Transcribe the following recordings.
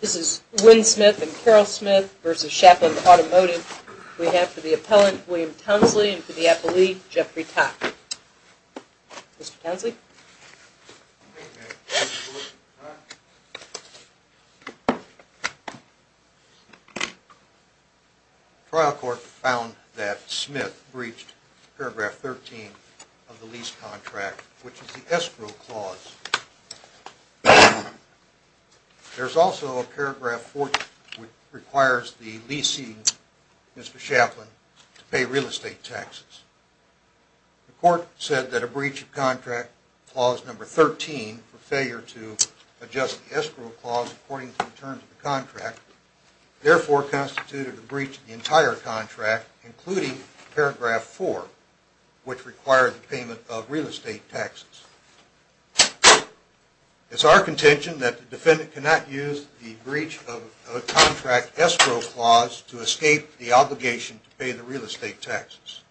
This is Wynn Smith and Carol Smith v. Shapland Automotive. We have for the appellant, William Townsley, and for the appellee, Jeffrey Tock. Mr. Townsley? The trial court found that Smith breached paragraph 13 of the lease contract, which is the escrow clause. There's also paragraph 14, which requires the leasing, Mr. Shapland, to pay real estate taxes. The court said that a breach of contract clause number 13, for failure to adjust the escrow clause according to the terms of the contract, therefore constituted a breach of the entire contract, including paragraph 4, which required the payment of real estate taxes. It's our contention that the defendant cannot use the breach of contract escrow clause to escape the obligation to pay the real estate taxes.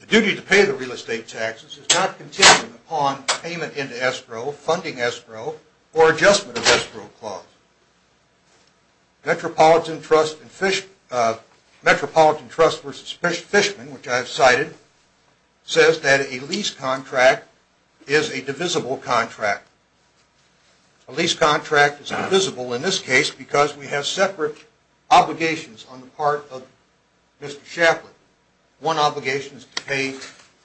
The duty to pay the real estate taxes is not contingent upon payment into escrow, funding escrow, or adjustment of escrow clause. Metropolitan Trust v. Fishman, which I have cited, says that a lease contract is a divisible contract. A lease contract is divisible in this case because we have separate obligations on the part of Mr. Shapland. One obligation is to pay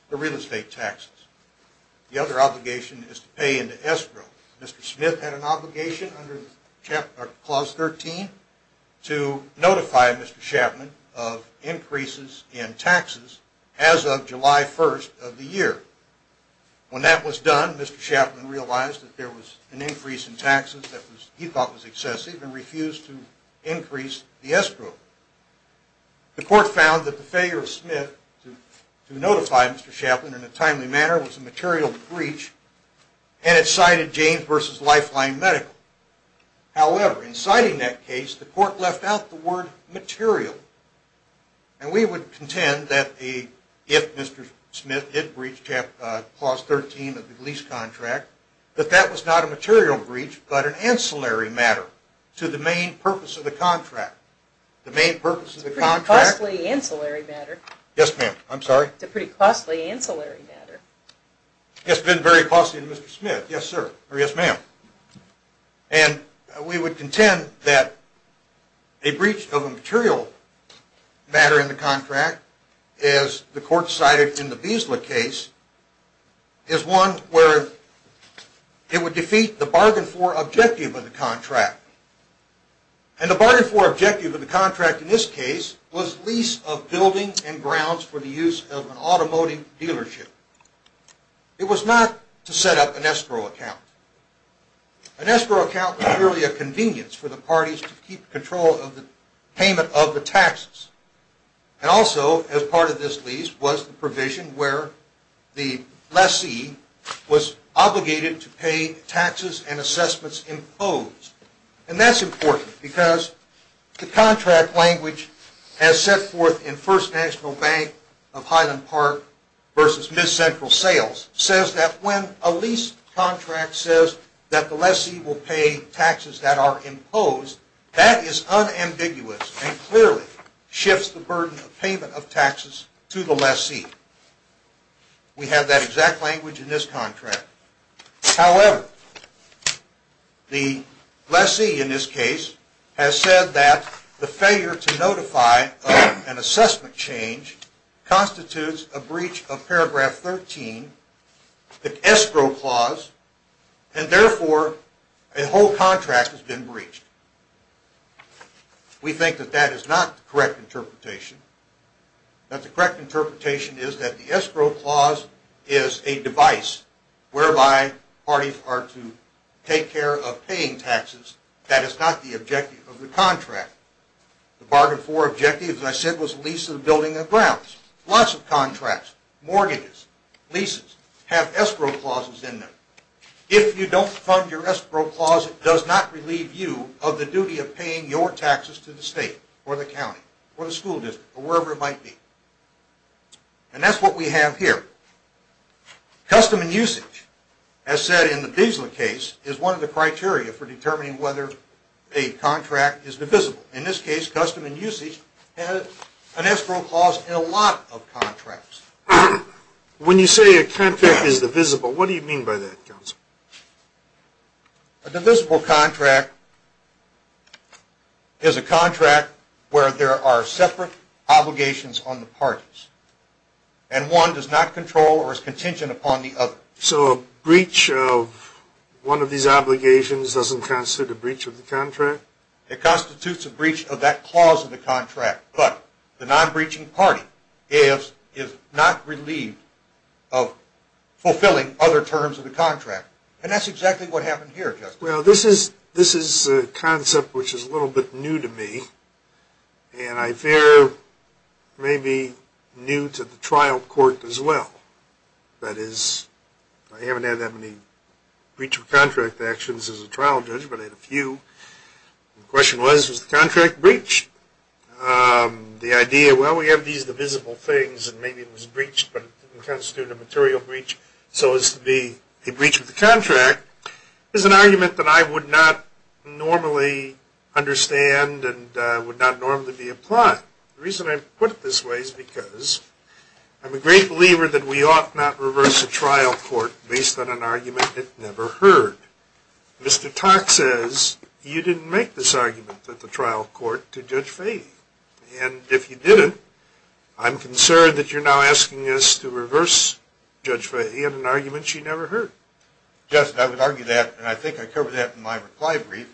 the real estate taxes. The other obligation is to pay into escrow. Mr. Smith had an obligation under clause 13 to notify Mr. Shapland of increases in taxes as of July 1st of the year. When that was done, Mr. Shapland realized that there was an increase in taxes that he thought was excessive and refused to increase the escrow. The court found that the failure of Smith to notify Mr. Shapland in a timely manner was a material breach and it cited James v. Lifeline Medical. However, in citing that case, the court left out the word material, and we would contend that if Mr. Smith did breach clause 13 of the lease contract, that that was not a material breach but an ancillary matter to the main purpose of the contract. It's a pretty costly ancillary matter. Yes, ma'am. I'm sorry? It's a pretty costly ancillary matter. It's been very costly to Mr. Smith. Yes, sir. Or yes, ma'am. And we would contend that a breach of a material matter in the contract, as the court cited in the Beazley case, is one where it would defeat the bargain for objective of the contract. And the bargain for objective of the contract in this case was lease of buildings and grounds for the use of an automotive dealership. It was not to set up an escrow account. An escrow account was merely a convenience for the parties to keep control of the payment of the taxes. And also, as part of this lease, was the provision where the lessee was obligated to pay taxes and assessments imposed. And that's important because the contract language as set forth in First National Bank of Highland Park v. Miss Central Sales says that when a lease contract says that the lessee will pay taxes that are imposed, that is unambiguous and clearly shifts the burden of payment of taxes to the lessee. We have that exact language in this contract. However, the lessee in this case has said that the failure to notify of an assessment change constitutes a breach of paragraph 13, the escrow clause, and therefore a whole contract has been breached. We think that that is not the correct interpretation. That the correct interpretation is that the escrow clause is a device whereby parties are to take care of paying taxes. That is not the objective of the contract. The bargain for objective, as I said, was lease of buildings and grounds. Lots of contracts, mortgages, leases have escrow clauses in them. If you don't fund your escrow clause, it does not relieve you of the duty of paying your taxes to the state or the county or the school district or wherever it might be. And that's what we have here. Custom and usage, as said in the Beazley case, is one of the criteria for determining whether a contract is divisible. In this case, custom and usage had an escrow clause in a lot of contracts. When you say a contract is divisible, what do you mean by that, counsel? A divisible contract is a contract where there are separate obligations on the parties. And one does not control or is contingent upon the other. So a breach of one of these obligations doesn't constitute a breach of the contract? It constitutes a breach of that clause of the contract. But the non-breaching party is not relieved of fulfilling other terms of the contract. And that's exactly what happened here, Justice. Well, this is a concept which is a little bit new to me. And I fear may be new to the trial court as well. That is, I haven't had that many breach of contract actions as a trial judge, but I had a few. The question was, was the contract breached? The idea, well, we have these divisible things and maybe it was breached, but it didn't constitute a material breach, so as to be a breach of the contract is an argument that I would not normally understand and would not normally be applying. The reason I put it this way is because I'm a great believer that we ought not reverse a trial court based on an argument it never heard. Mr. Tock says you didn't make this argument at the trial court to Judge Fahey. And if you didn't, I'm concerned that you're now asking us to reverse Judge Fahey on an argument she never heard. Justice, I would argue that, and I think I covered that in my reply brief.